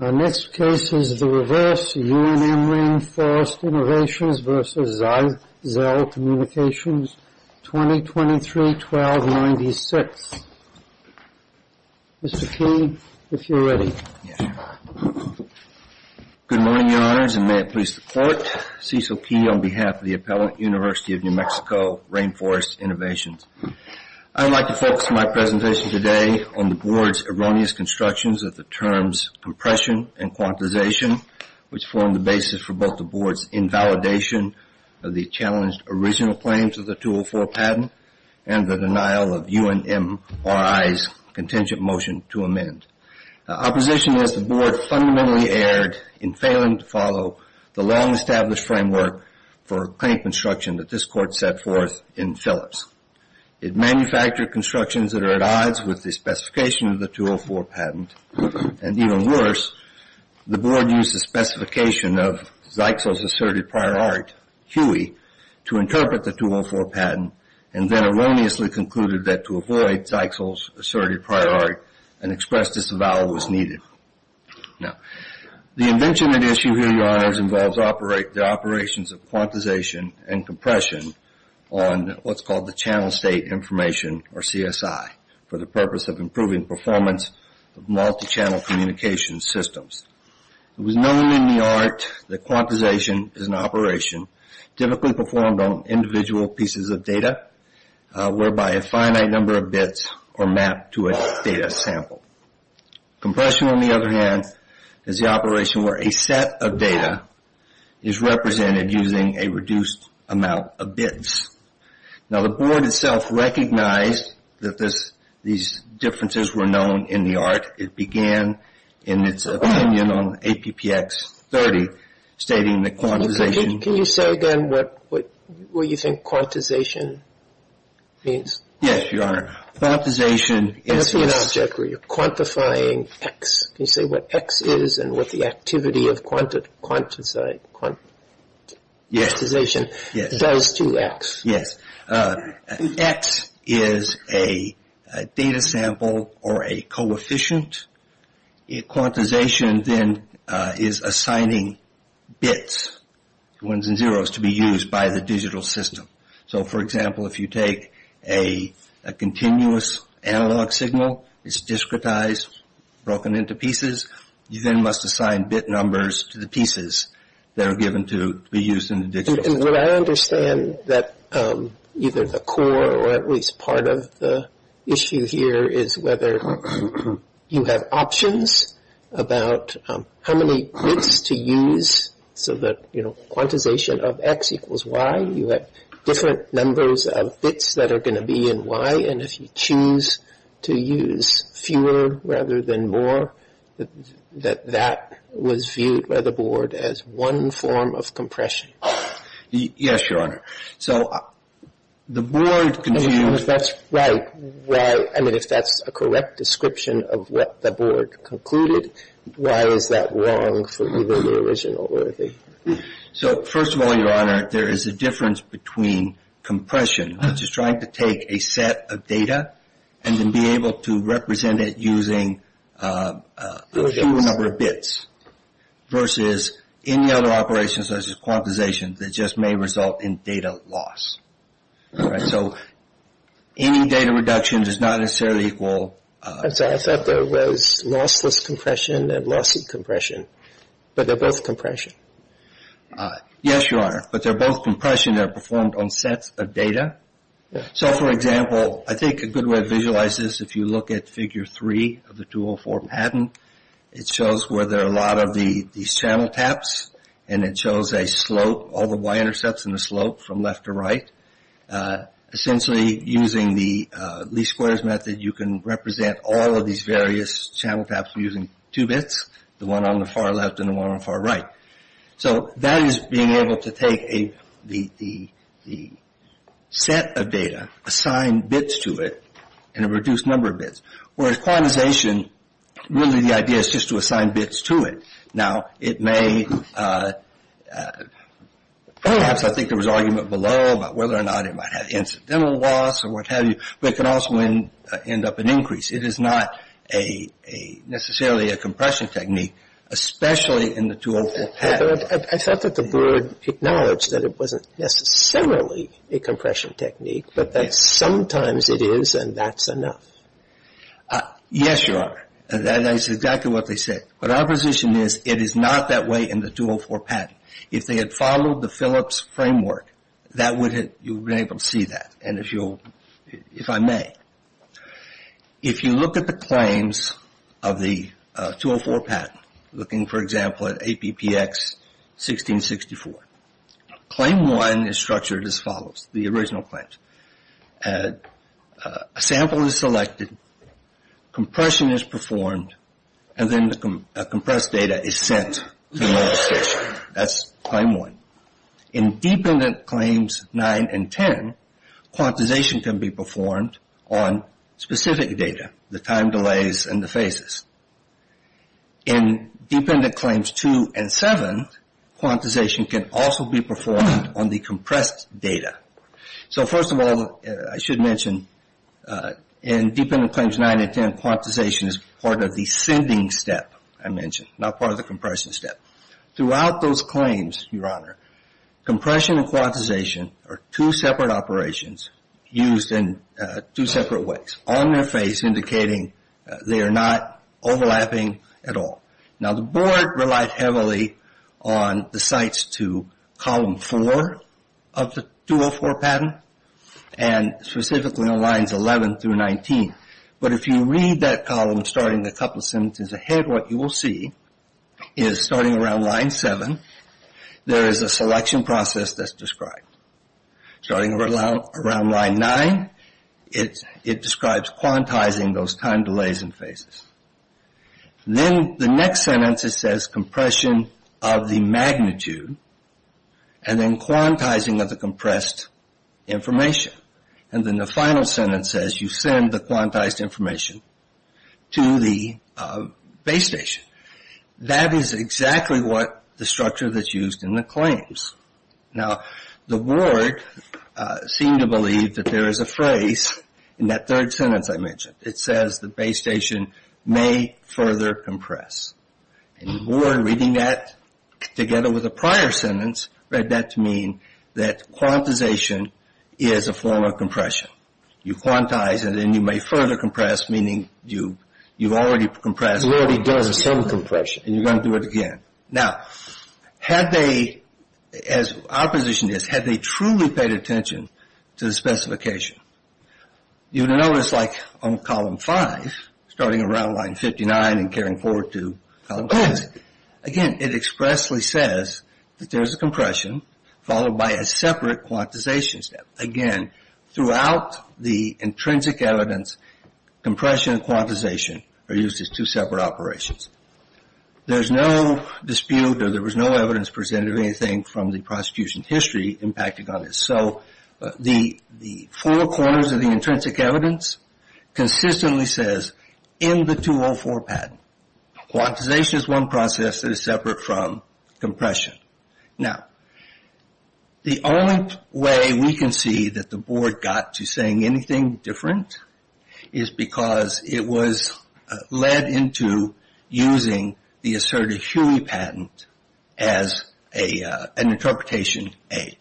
Our next case is the reverse UNM Rainforest Innovations v. ZyXEL Communications, 2023-12-96. Mr. Key, if you're ready. Good morning, Your Honors, and may it please the Court, Cecil Key on behalf of the Appellate University of New Mexico Rainforest Innovations. I'd like to focus my presentation today on the Board's erroneous constructions of the terms compression and quantization, which form the basis for both the Board's invalidation of the challenged original claims of the 204 patent and the denial of UNMRI's contingent motion to amend. Opposition is the Board fundamentally erred in failing to follow the long-established framework for claim construction that this Court set forth in Phillips. It manufactured constructions that are at odds with the specification of the 204 patent, and even worse, the Board used the specification of ZyXEL's asserted prior art, Huey, to interpret the 204 patent, and then erroneously concluded that to avoid ZyXEL's asserted prior art, an express disavowal was needed. Now, the invention at issue here, Your Honors, involves the operations of quantization and compression on what's called the channel state information, or CSI, for the purpose of improving performance of multi-channel communication systems. It was known in the art that quantization is an operation typically performed on individual pieces of data, whereby a finite number of bits are mapped to a data sample. Compression, on the other hand, is the operation where a set of data is represented using a reduced amount of bits. Now, the Board itself recognized that these differences were known in the art. It began in its opinion on APPX 30, stating that quantization... Can you say again what you think quantization means? Yes, Your Honor. Quantization is... It's an object where you're quantifying X. Can you say what X is and what the activity of quantization does to X? Yes. X is a data sample or a coefficient. Quantization then is assigning bits, ones and zeros, to be used by the digital system. So, for example, if you take a continuous analog signal, it's discretized, broken into pieces. You then must assign bit numbers to the pieces that are given to be used in the digital system. I understand that either the core or at least part of the issue here is whether you have options about how many bits to use so that, you know, quantization of X equals Y. You have different numbers of bits that are going to be in Y, and if you choose to use fewer rather than more, that that was viewed by the board as one form of compression. Yes, Your Honor. So the board... If that's right, I mean, if that's a correct description of what the board concluded, why is that wrong for either the original or the... So, first of all, Your Honor, there is a difference between compression, which is trying to take a set of data and then be able to represent it using a few number of bits, versus any other operation such as quantization that just may result in data loss. So any data reduction does not necessarily equal... I'm sorry, I thought there was lossless compression and lossy compression, but they're both compression. Yes, Your Honor, but they're both compression that are performed on sets of data. So, for example, I think a good way to visualize this, if you look at figure three of the 204 patent, it shows where there are a lot of these channel taps, and it shows a slope, all the Y intercepts in the slope from left to right. Essentially, using the least squares method, you can represent all of these various channel taps using two bits, the one on the far left and the one on the far right. So that is being able to take the set of data, assign bits to it, and a reduced number of bits. Whereas quantization, really the idea is just to assign bits to it. Now, it may, perhaps I think there was argument below about whether or not it might have incidental loss or what have you, but it can also end up in increase. It is not necessarily a compression technique, especially in the 204 patent. I thought that the board acknowledged that it wasn't necessarily a compression technique, but that sometimes it is and that's enough. Yes, Your Honor. That is exactly what they said. But our position is it is not that way in the 204 patent. If they had followed the Phillips framework, you would have been able to see that, if I may. If you look at the claims of the 204 patent, looking, for example, at APPX 1664, claim one is structured as follows, the original claims. A sample is selected, compression is performed, and then the compressed data is sent to the administration. That's claim one. In dependent claims nine and ten, quantization can be performed on specific data, the time delays and the phases. In dependent claims two and seven, quantization can also be performed on the compressed data. So, first of all, I should mention in dependent claims nine and ten, quantization is part of the sending step I mentioned, not part of the compression step. Throughout those claims, Your Honor, compression and quantization are two separate operations used in two separate ways, on their face indicating they are not overlapping at all. Now, the board relied heavily on the sites to column four of the 204 patent, and specifically on lines 11 through 19. But if you read that column starting a couple of sentences ahead, what you will see is starting around line seven, there is a selection process that's described. Starting around line nine, it describes quantizing those time delays and phases. Then the next sentence, it says compression of the magnitude and then quantizing of the compressed information. And then the final sentence says you send the quantized information to the base station. That is exactly what the structure that's used in the claims. Now, the board seemed to believe that there is a phrase in that third sentence I mentioned. It says the base station may further compress. And the board reading that together with the prior sentence read that to mean that quantization is a form of compression. You quantize and then you may further compress, meaning you've already compressed. You already did a certain compression. And you're going to do it again. Now, had they, as our position is, had they truly paid attention to the specification, you would have noticed like on column five, starting around line 59 and carrying forward to column 10. Again, it expressly says that there is a compression followed by a separate quantization step. Again, throughout the intrinsic evidence, compression and quantization are used as two separate operations. There is no dispute or there was no evidence presented of anything from the prosecution's history impacting on this. So the four corners of the intrinsic evidence consistently says in the 204 patent, quantization is one process that is separate from compression. Now, the only way we can see that the board got to saying anything different is because it was led into using the asserted Huey patent as an interpretation aid.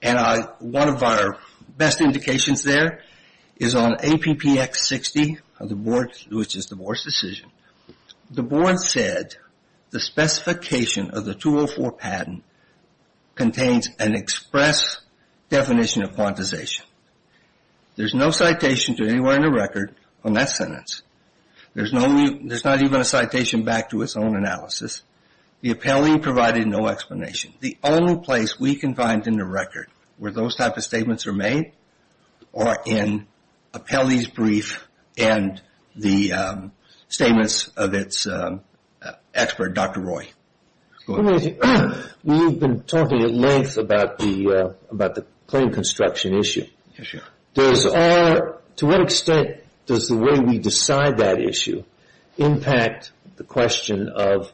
And one of our best indications there is on APPX60, which is the board's decision. The board said the specification of the 204 patent contains an express definition of quantization. There's no citation to anywhere in the record on that sentence. There's not even a citation back to its own analysis. The appellee provided no explanation. The only place we can find in the record where those type of statements are made are in appellee's brief and the statements of its expert, Dr. Roy. We've been talking at length about the claim construction issue. To what extent does the way we decide that issue impact the question of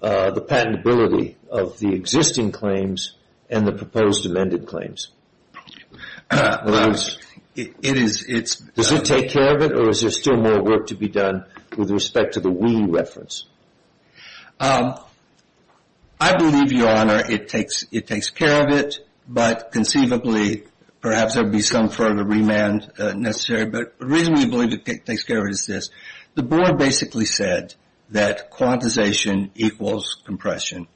the patentability of the existing claims and the proposed amended claims? Does it take care of it or is there still more work to be done with respect to the Huey reference? I believe, Your Honor, it takes care of it. But conceivably, perhaps there would be some further remand necessary. But the reason we believe it takes care of it is this. The board basically said that quantization equals compression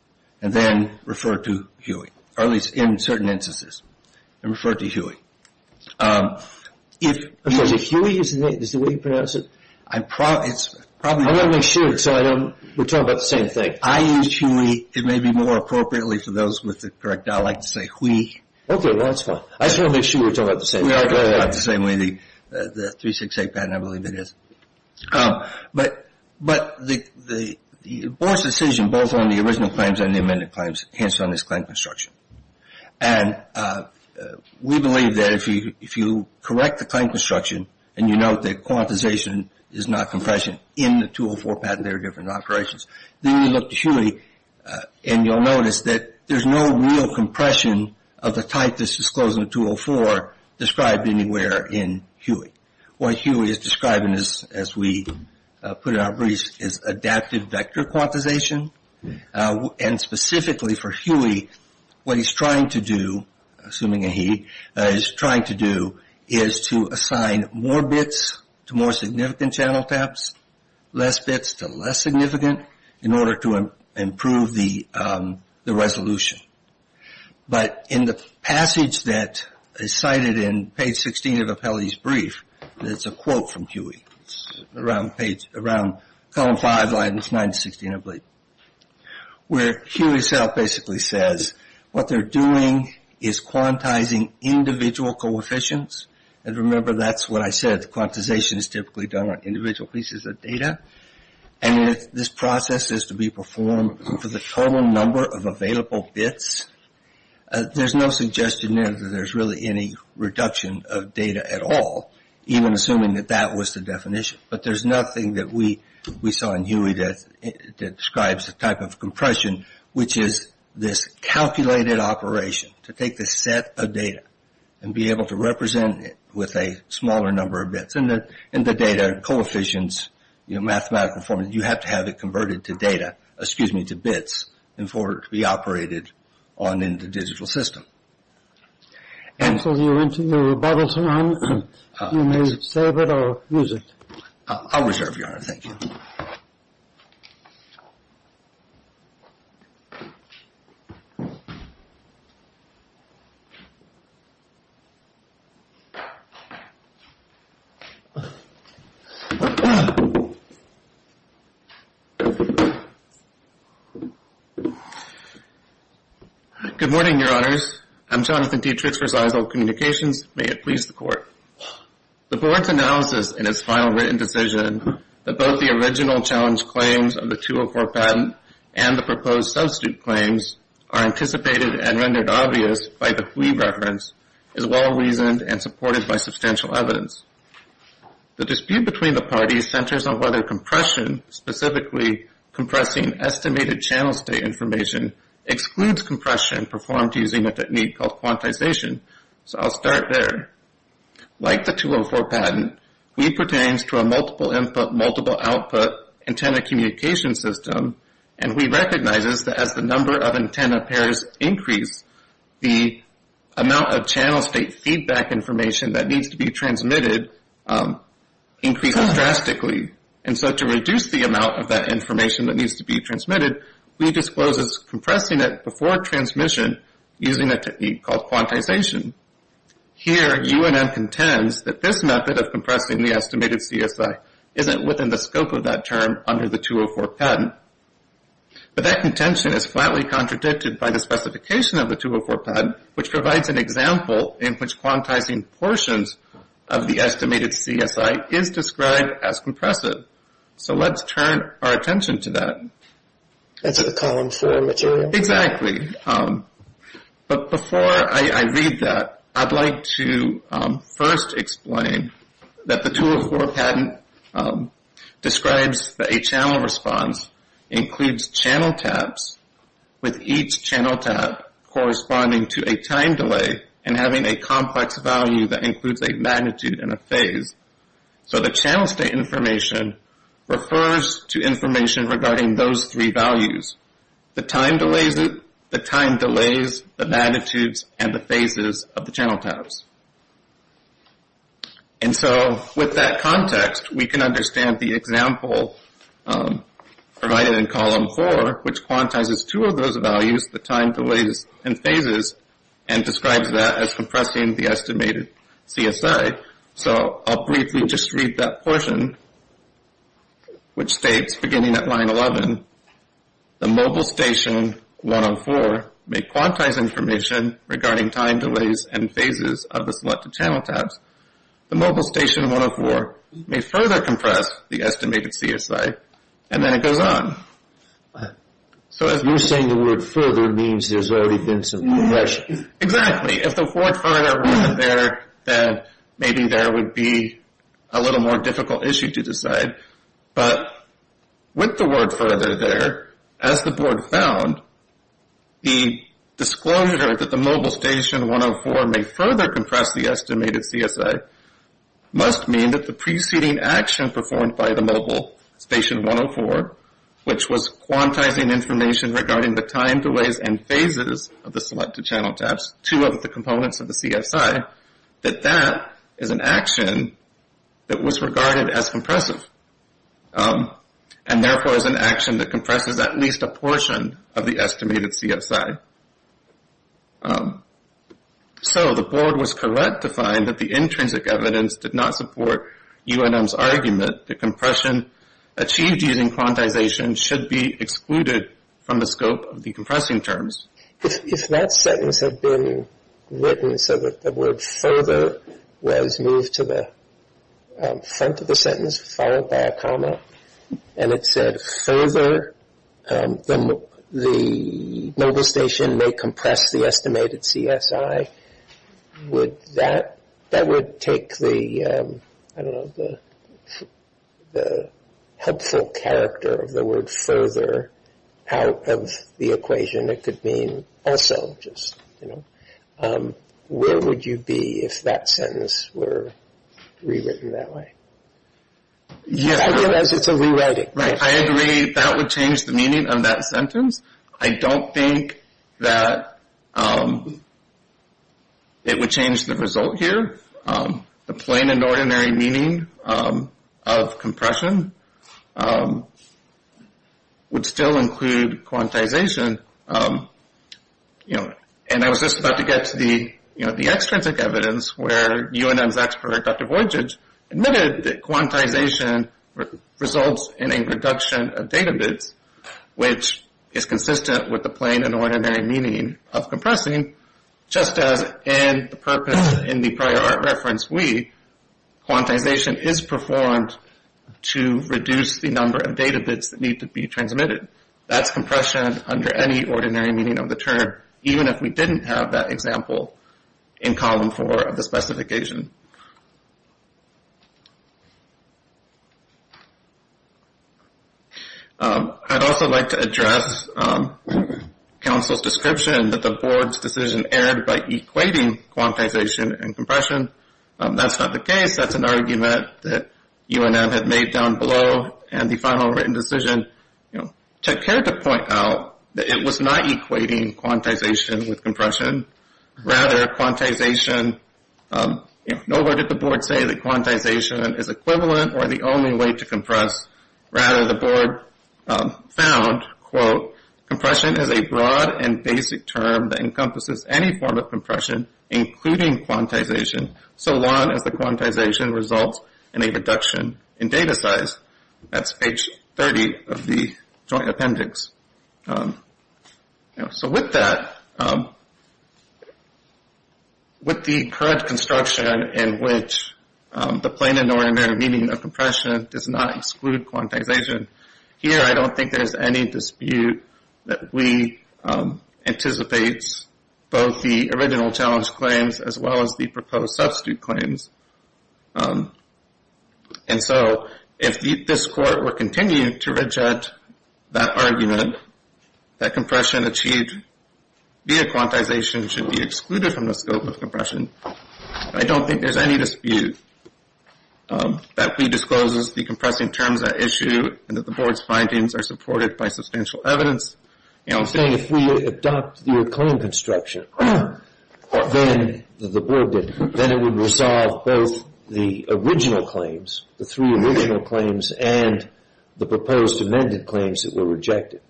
and then referred to Huey, or at least in certain instances, and referred to Huey. If Huey is the way you pronounce it? I want to make sure we're talking about the same thing. I use Huey. It may be more appropriately for those with the correct dialect to say Huey. Okay, that's fine. I just want to make sure we're talking about the same thing. We are talking about the same way. The 368 patent, I believe it is. But the board's decision, both on the original claims and the amended claims, hands down is claim construction. And we believe that if you correct the claim construction and you note that quantization is not compression in the 204 patent, there are different operations, then you look to Huey and you'll notice that there's no real compression of the type that's disclosed in 204 described anywhere in Huey. What Huey is describing, as we put it in our brief, is adaptive vector quantization. And specifically for Huey, what he's trying to do, assuming a he, what he's trying to do is to assign more bits to more significant channel taps, less bits to less significant, in order to improve the resolution. But in the passage that is cited in page 16 of Apelli's brief, it's a quote from Huey. It's around column five, line nine to 16, I believe, where Huey himself basically says what they're doing is quantizing individual coefficients. And remember, that's what I said. Quantization is typically done on individual pieces of data. And if this process is to be performed for the total number of available bits, there's no suggestion there that there's really any reduction of data at all, even assuming that that was the definition. But there's nothing that we saw in Huey that describes the type of compression, which is this calculated operation to take the set of data and be able to represent it with a smaller number of bits. And the data coefficients, you know, mathematical form, you have to have it converted to data, excuse me, to bits, in order to be operated on in the digital system. Ansel, you're into your rebuttal time. You may save it or use it. I'll reserve your honor. Thank you. Good morning, Your Honors. I'm Jonathan Dietrich for Seisel Communications. May it please the Court. The Board's analysis in its final written decision that both the original challenge claims of the 204 patent and the proposed substitute claims are anticipated and rendered obvious by the Huey reference is well-reasoned and supported by substantial evidence. The dispute between the parties centers on whether compression, specifically compressing estimated channel state information, excludes compression performed using a technique called quantization. So I'll start there. Like the 204 patent, Huy pertains to a multiple input, multiple output antenna communication system, and Huy recognizes that as the number of antenna pairs increase, the amount of channel state feedback information that needs to be transmitted increases drastically. And so to reduce the amount of that information that needs to be transmitted, Huy discloses compressing it before transmission using a technique called quantization. Here, UNM contends that this method of compressing the estimated CSI isn't within the scope of that term under the 204 patent. But that contention is flatly contradicted by the specification of the 204 patent, which provides an example in which quantizing portions of the estimated CSI is described as compressive. So let's turn our attention to that. That's a column four material. Exactly. But before I read that, I'd like to first explain that the 204 patent describes that a channel response includes channel tabs with each channel tab corresponding to a time delay and having a complex value that includes a magnitude and a phase. So the channel state information refers to information regarding those three values. The time delays it. The time delays the magnitudes and the phases of the channel tabs. And so with that context, we can understand the example provided in column four, which quantizes two of those values, the time delays and phases, and describes that as compressing the estimated CSI. So I'll briefly just read that portion, which states, beginning at line 11, the mobile station 104 may quantize information regarding time delays and phases of the selected channel tabs. The mobile station 104 may further compress the estimated CSI. And then it goes on. So if you're saying the word further means there's already been some compression. Exactly. If the word further wasn't there, then maybe there would be a little more difficult issue to decide. But with the word further there, as the board found, the disclosure that the mobile station 104 may further compress the estimated CSI must mean that the preceding action performed by the mobile station 104, which was quantizing information regarding the time delays and phases of the selected channel tabs, two of the components of the CSI, that that is an action that was regarded as compressive and therefore is an action that compresses at least a portion of the estimated CSI. So the board was correct to find that the intrinsic evidence did not support UNM's argument that compression achieved using quantization should be excluded from the scope of the compressing terms. If that sentence had been written so that the word further was moved to the front of the sentence followed by a comma and it said further the mobile station may compress the estimated CSI, that would take the helpful character of the word further out of the equation. It could mean also just, you know, where would you be if that sentence were rewritten that way? I realize it's a rewriting question. I agree that would change the meaning of that sentence. I don't think that it would change the result here. The plain and ordinary meaning of compression would still include quantization. And I was just about to get to the extrinsic evidence where UNM's expert Dr. Voydjic admitted that quantization results in a reduction of data bits, which is consistent with the plain and ordinary meaning of compressing, just as in the prior art reference, quantization is performed to reduce the number of data bits that need to be transmitted. That's compression under any ordinary meaning of the term, even if we didn't have that example in column four of the specification. I'd also like to address council's description that the board's decision was being aired by equating quantization and compression. That's not the case. That's an argument that UNM had made down below. And the final written decision, you know, took care to point out that it was not equating quantization with compression. Rather, quantization, you know, nor did the board say that quantization is equivalent or the only way to compress. Rather, the board found, quote, Compression is a broad and basic term that encompasses any form of compression, including quantization, so long as the quantization results in a reduction in data size. That's page 30 of the joint appendix. So with that, with the current construction in which the plain and ordinary meaning of compression does not exclude quantization, here I don't think there's any dispute that we anticipate both the original challenge claims as well as the proposed substitute claims. And so if this court were continuing to reject that argument, that compression achieved via quantization should be excluded from the scope of compression, I don't think there's any dispute that we disclosed that this is the compressing terms at issue and that the board's findings are supported by substantial evidence. I'm saying if we adopt the claim construction, then the board would resolve both the original claims, the three original claims, and the proposed amended claims that were rejected.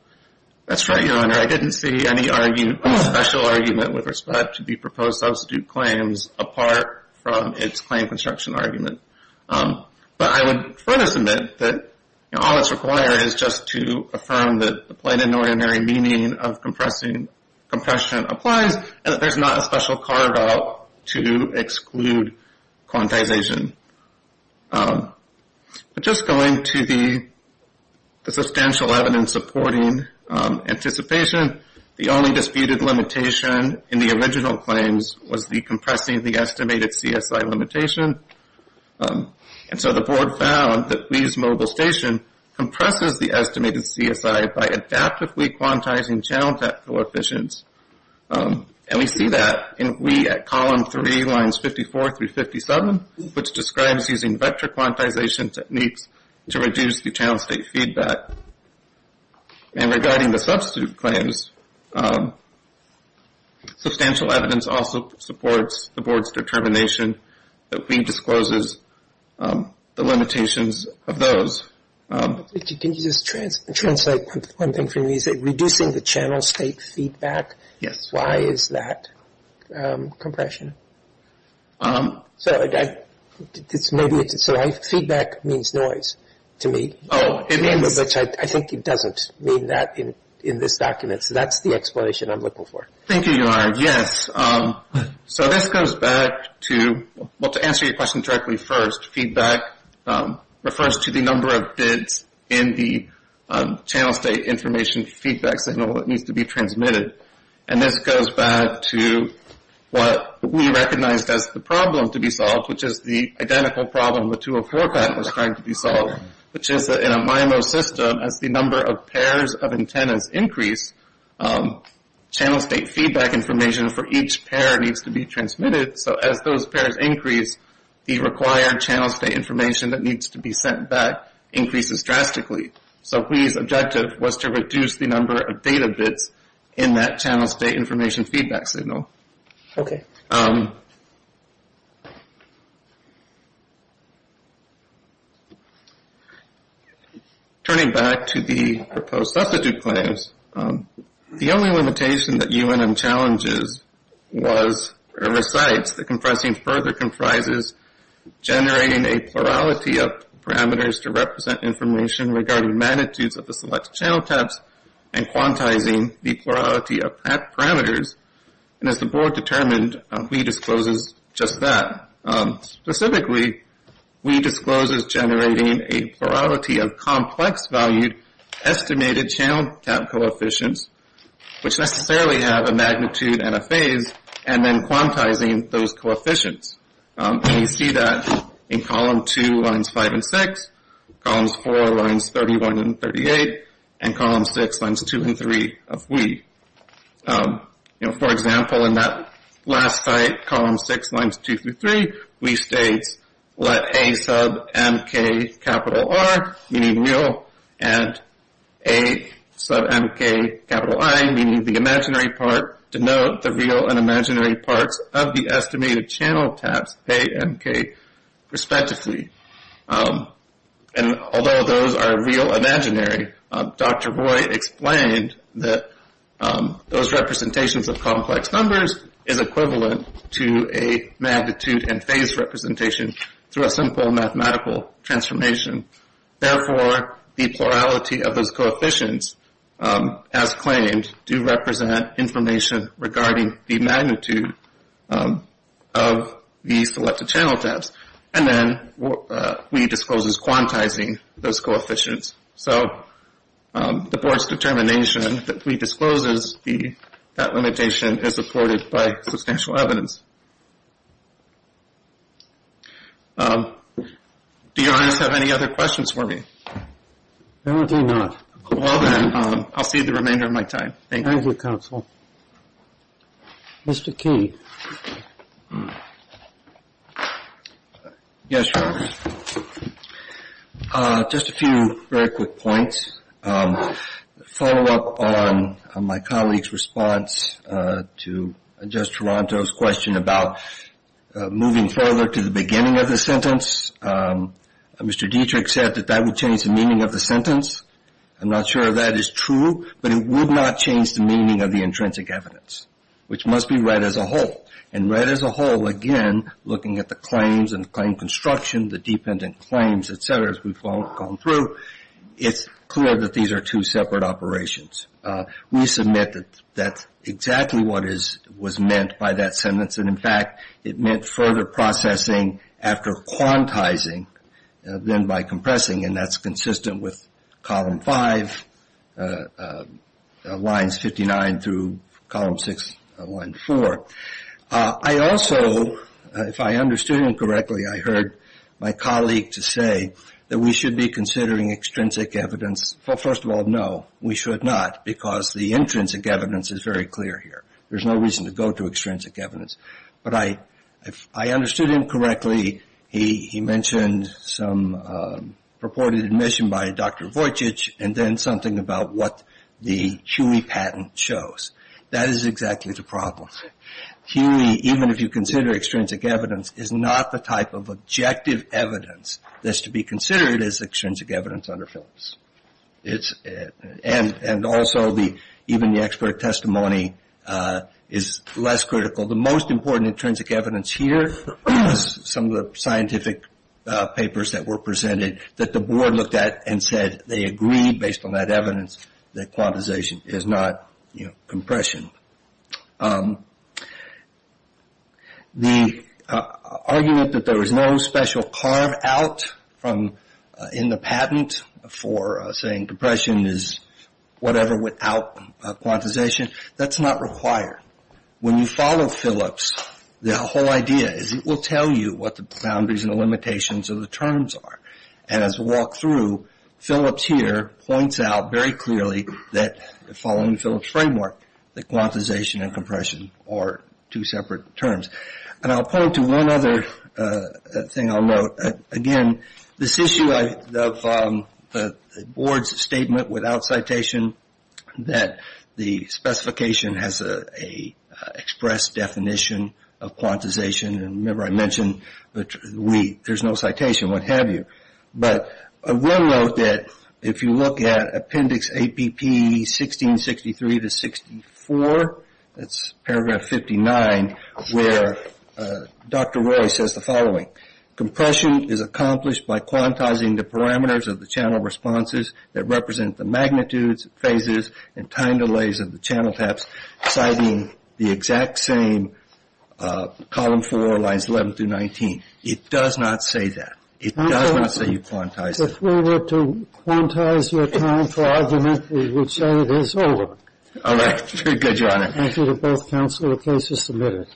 That's right, Your Honor. I didn't see any special argument with respect to the proposed substitute claims apart from its claim construction argument. But I would furthest admit that all that's required is just to affirm that the plain and ordinary meaning of compression applies and that there's not a special carve-out to exclude quantization. But just going to the substantial evidence supporting anticipation, the only disputed limitation in the original claims was the compressing of the estimated CSI limitation. And so the board found that Wee's Mobile Station compresses the estimated CSI by adaptively quantizing channel type coefficients. And we see that in Wee at column 3, lines 54 through 57, which describes using vector quantization techniques to reduce the channel state feedback. And regarding the substitute claims, substantial evidence also supports the board's determination that Wee discloses the limitations of those. Can you just translate one thing for me? Is it reducing the channel state feedback? Yes. Why is that compression? So feedback means noise to me. I think it doesn't mean that in this document. So that's the explanation I'm looking for. Thank you, Yohair. Yes. So this goes back to, well, to answer your question directly first, feedback refers to the number of bids in the channel state information feedback signal that needs to be transmitted. And this goes back to what Wee recognized as the problem to be solved, which is the identical problem the 204 patent was trying to be solved, which is that in a MIMO system, as the number of pairs of antennas increase, channel state feedback information for each pair needs to be transmitted. So as those pairs increase, the required channel state information that needs to be sent back increases drastically. So Wee's objective was to reduce the number of data bids in that channel state information feedback signal. Okay. Turning back to the proposed substitute claims, the only limitation that UNM challenges was, or recites, that compressing further comprises generating a plurality of parameters to represent information regarding magnitudes of the select channel types and quantizing the plurality of parameters. And as the board determined, Wee discloses just that. Specifically, Wee discloses generating a plurality of complex-valued estimated channel type coefficients, which necessarily have a magnitude and a phase, and then quantizing those coefficients. And you see that in column 2, lines 5 and 6, columns 4, lines 31 and 38, and columns 6, lines 2 and 3 of Wee. You know, for example, in that last slide, columns 6, lines 2 through 3, Wee states, let A sub mk, capital R, meaning real, and A sub mk, capital I, meaning the imaginary part, denote the real and imaginary parts of the estimated channel types A, mk, respectively. And although those are real and imaginary, Dr. Roy explained that those representations of complex numbers is equivalent to a magnitude and phase representation through a simple mathematical transformation. Therefore, the plurality of those coefficients, as claimed, do represent information regarding the magnitude of the selected channel types. And then Wee discloses quantizing those coefficients. So the board's determination that Wee discloses that limitation is supported by substantial evidence. Do your honors have any other questions for me? No, I do not. Well, then, I'll cede the remainder of my time. Thank you. Thank you, counsel. Mr. Key. Yes, Your Honors. Just a few very quick points. A follow-up on my colleague's response to Judge Toronto's question about moving further to the beginning of the sentence. Mr. Dietrich said that that would change the meaning of the sentence. I'm not sure if that is true, but it would not change the meaning of the intrinsic evidence, which must be read as a whole. And read as a whole, again, looking at the claims and the claim construction, the dependent claims, et cetera, as we've gone through, it's clear that these are two separate operations. We submit that that's exactly what was meant by that sentence. And, in fact, it meant further processing after quantizing than by compressing, and that's consistent with Column 5, Lines 59 through Column 6, Line 4. I also, if I understood him correctly, I heard my colleague say that we should be considering extrinsic evidence. Well, first of all, no, we should not, because the intrinsic evidence is very clear here. There's no reason to go to extrinsic evidence. But I understood him correctly. He mentioned some purported admission by Dr. Vujicic, and then something about what the HUIE patent shows. That is exactly the problem. HUIE, even if you consider extrinsic evidence, is not the type of objective evidence that's to be considered as extrinsic evidence under Phillips. And also even the expert testimony is less critical. The most important intrinsic evidence here is some of the scientific papers that were presented that the board looked at and said they agreed, based on that evidence, that quantization is not compression. The argument that there was no special carve-out in the patent for saying compression is whatever without quantization, that's not required. When you follow Phillips, the whole idea is it will tell you what the boundaries and the limitations of the terms are. And as we walk through, Phillips here points out very clearly that, following Phillips' framework, that quantization and compression are two separate terms. And I'll point to one other thing I'll note. Again, this issue of the board's statement without citation, that the specification has an expressed definition of quantization, and remember I mentioned HUIE, there's no citation, what have you. But I will note that if you look at Appendix APP 1663 to 64, that's paragraph 59, where Dr. Roy says the following. Compression is accomplished by quantizing the parameters of the channel responses that represent the magnitudes, phases, and time delays of the channel taps, citing the exact same column 4, lines 11 through 19. It does not say that. It does not say you quantize it. If we were to quantize your time for argument, we would say it is over. All right. Very good, Your Honor. Thank you to both counsel. The case is submitted.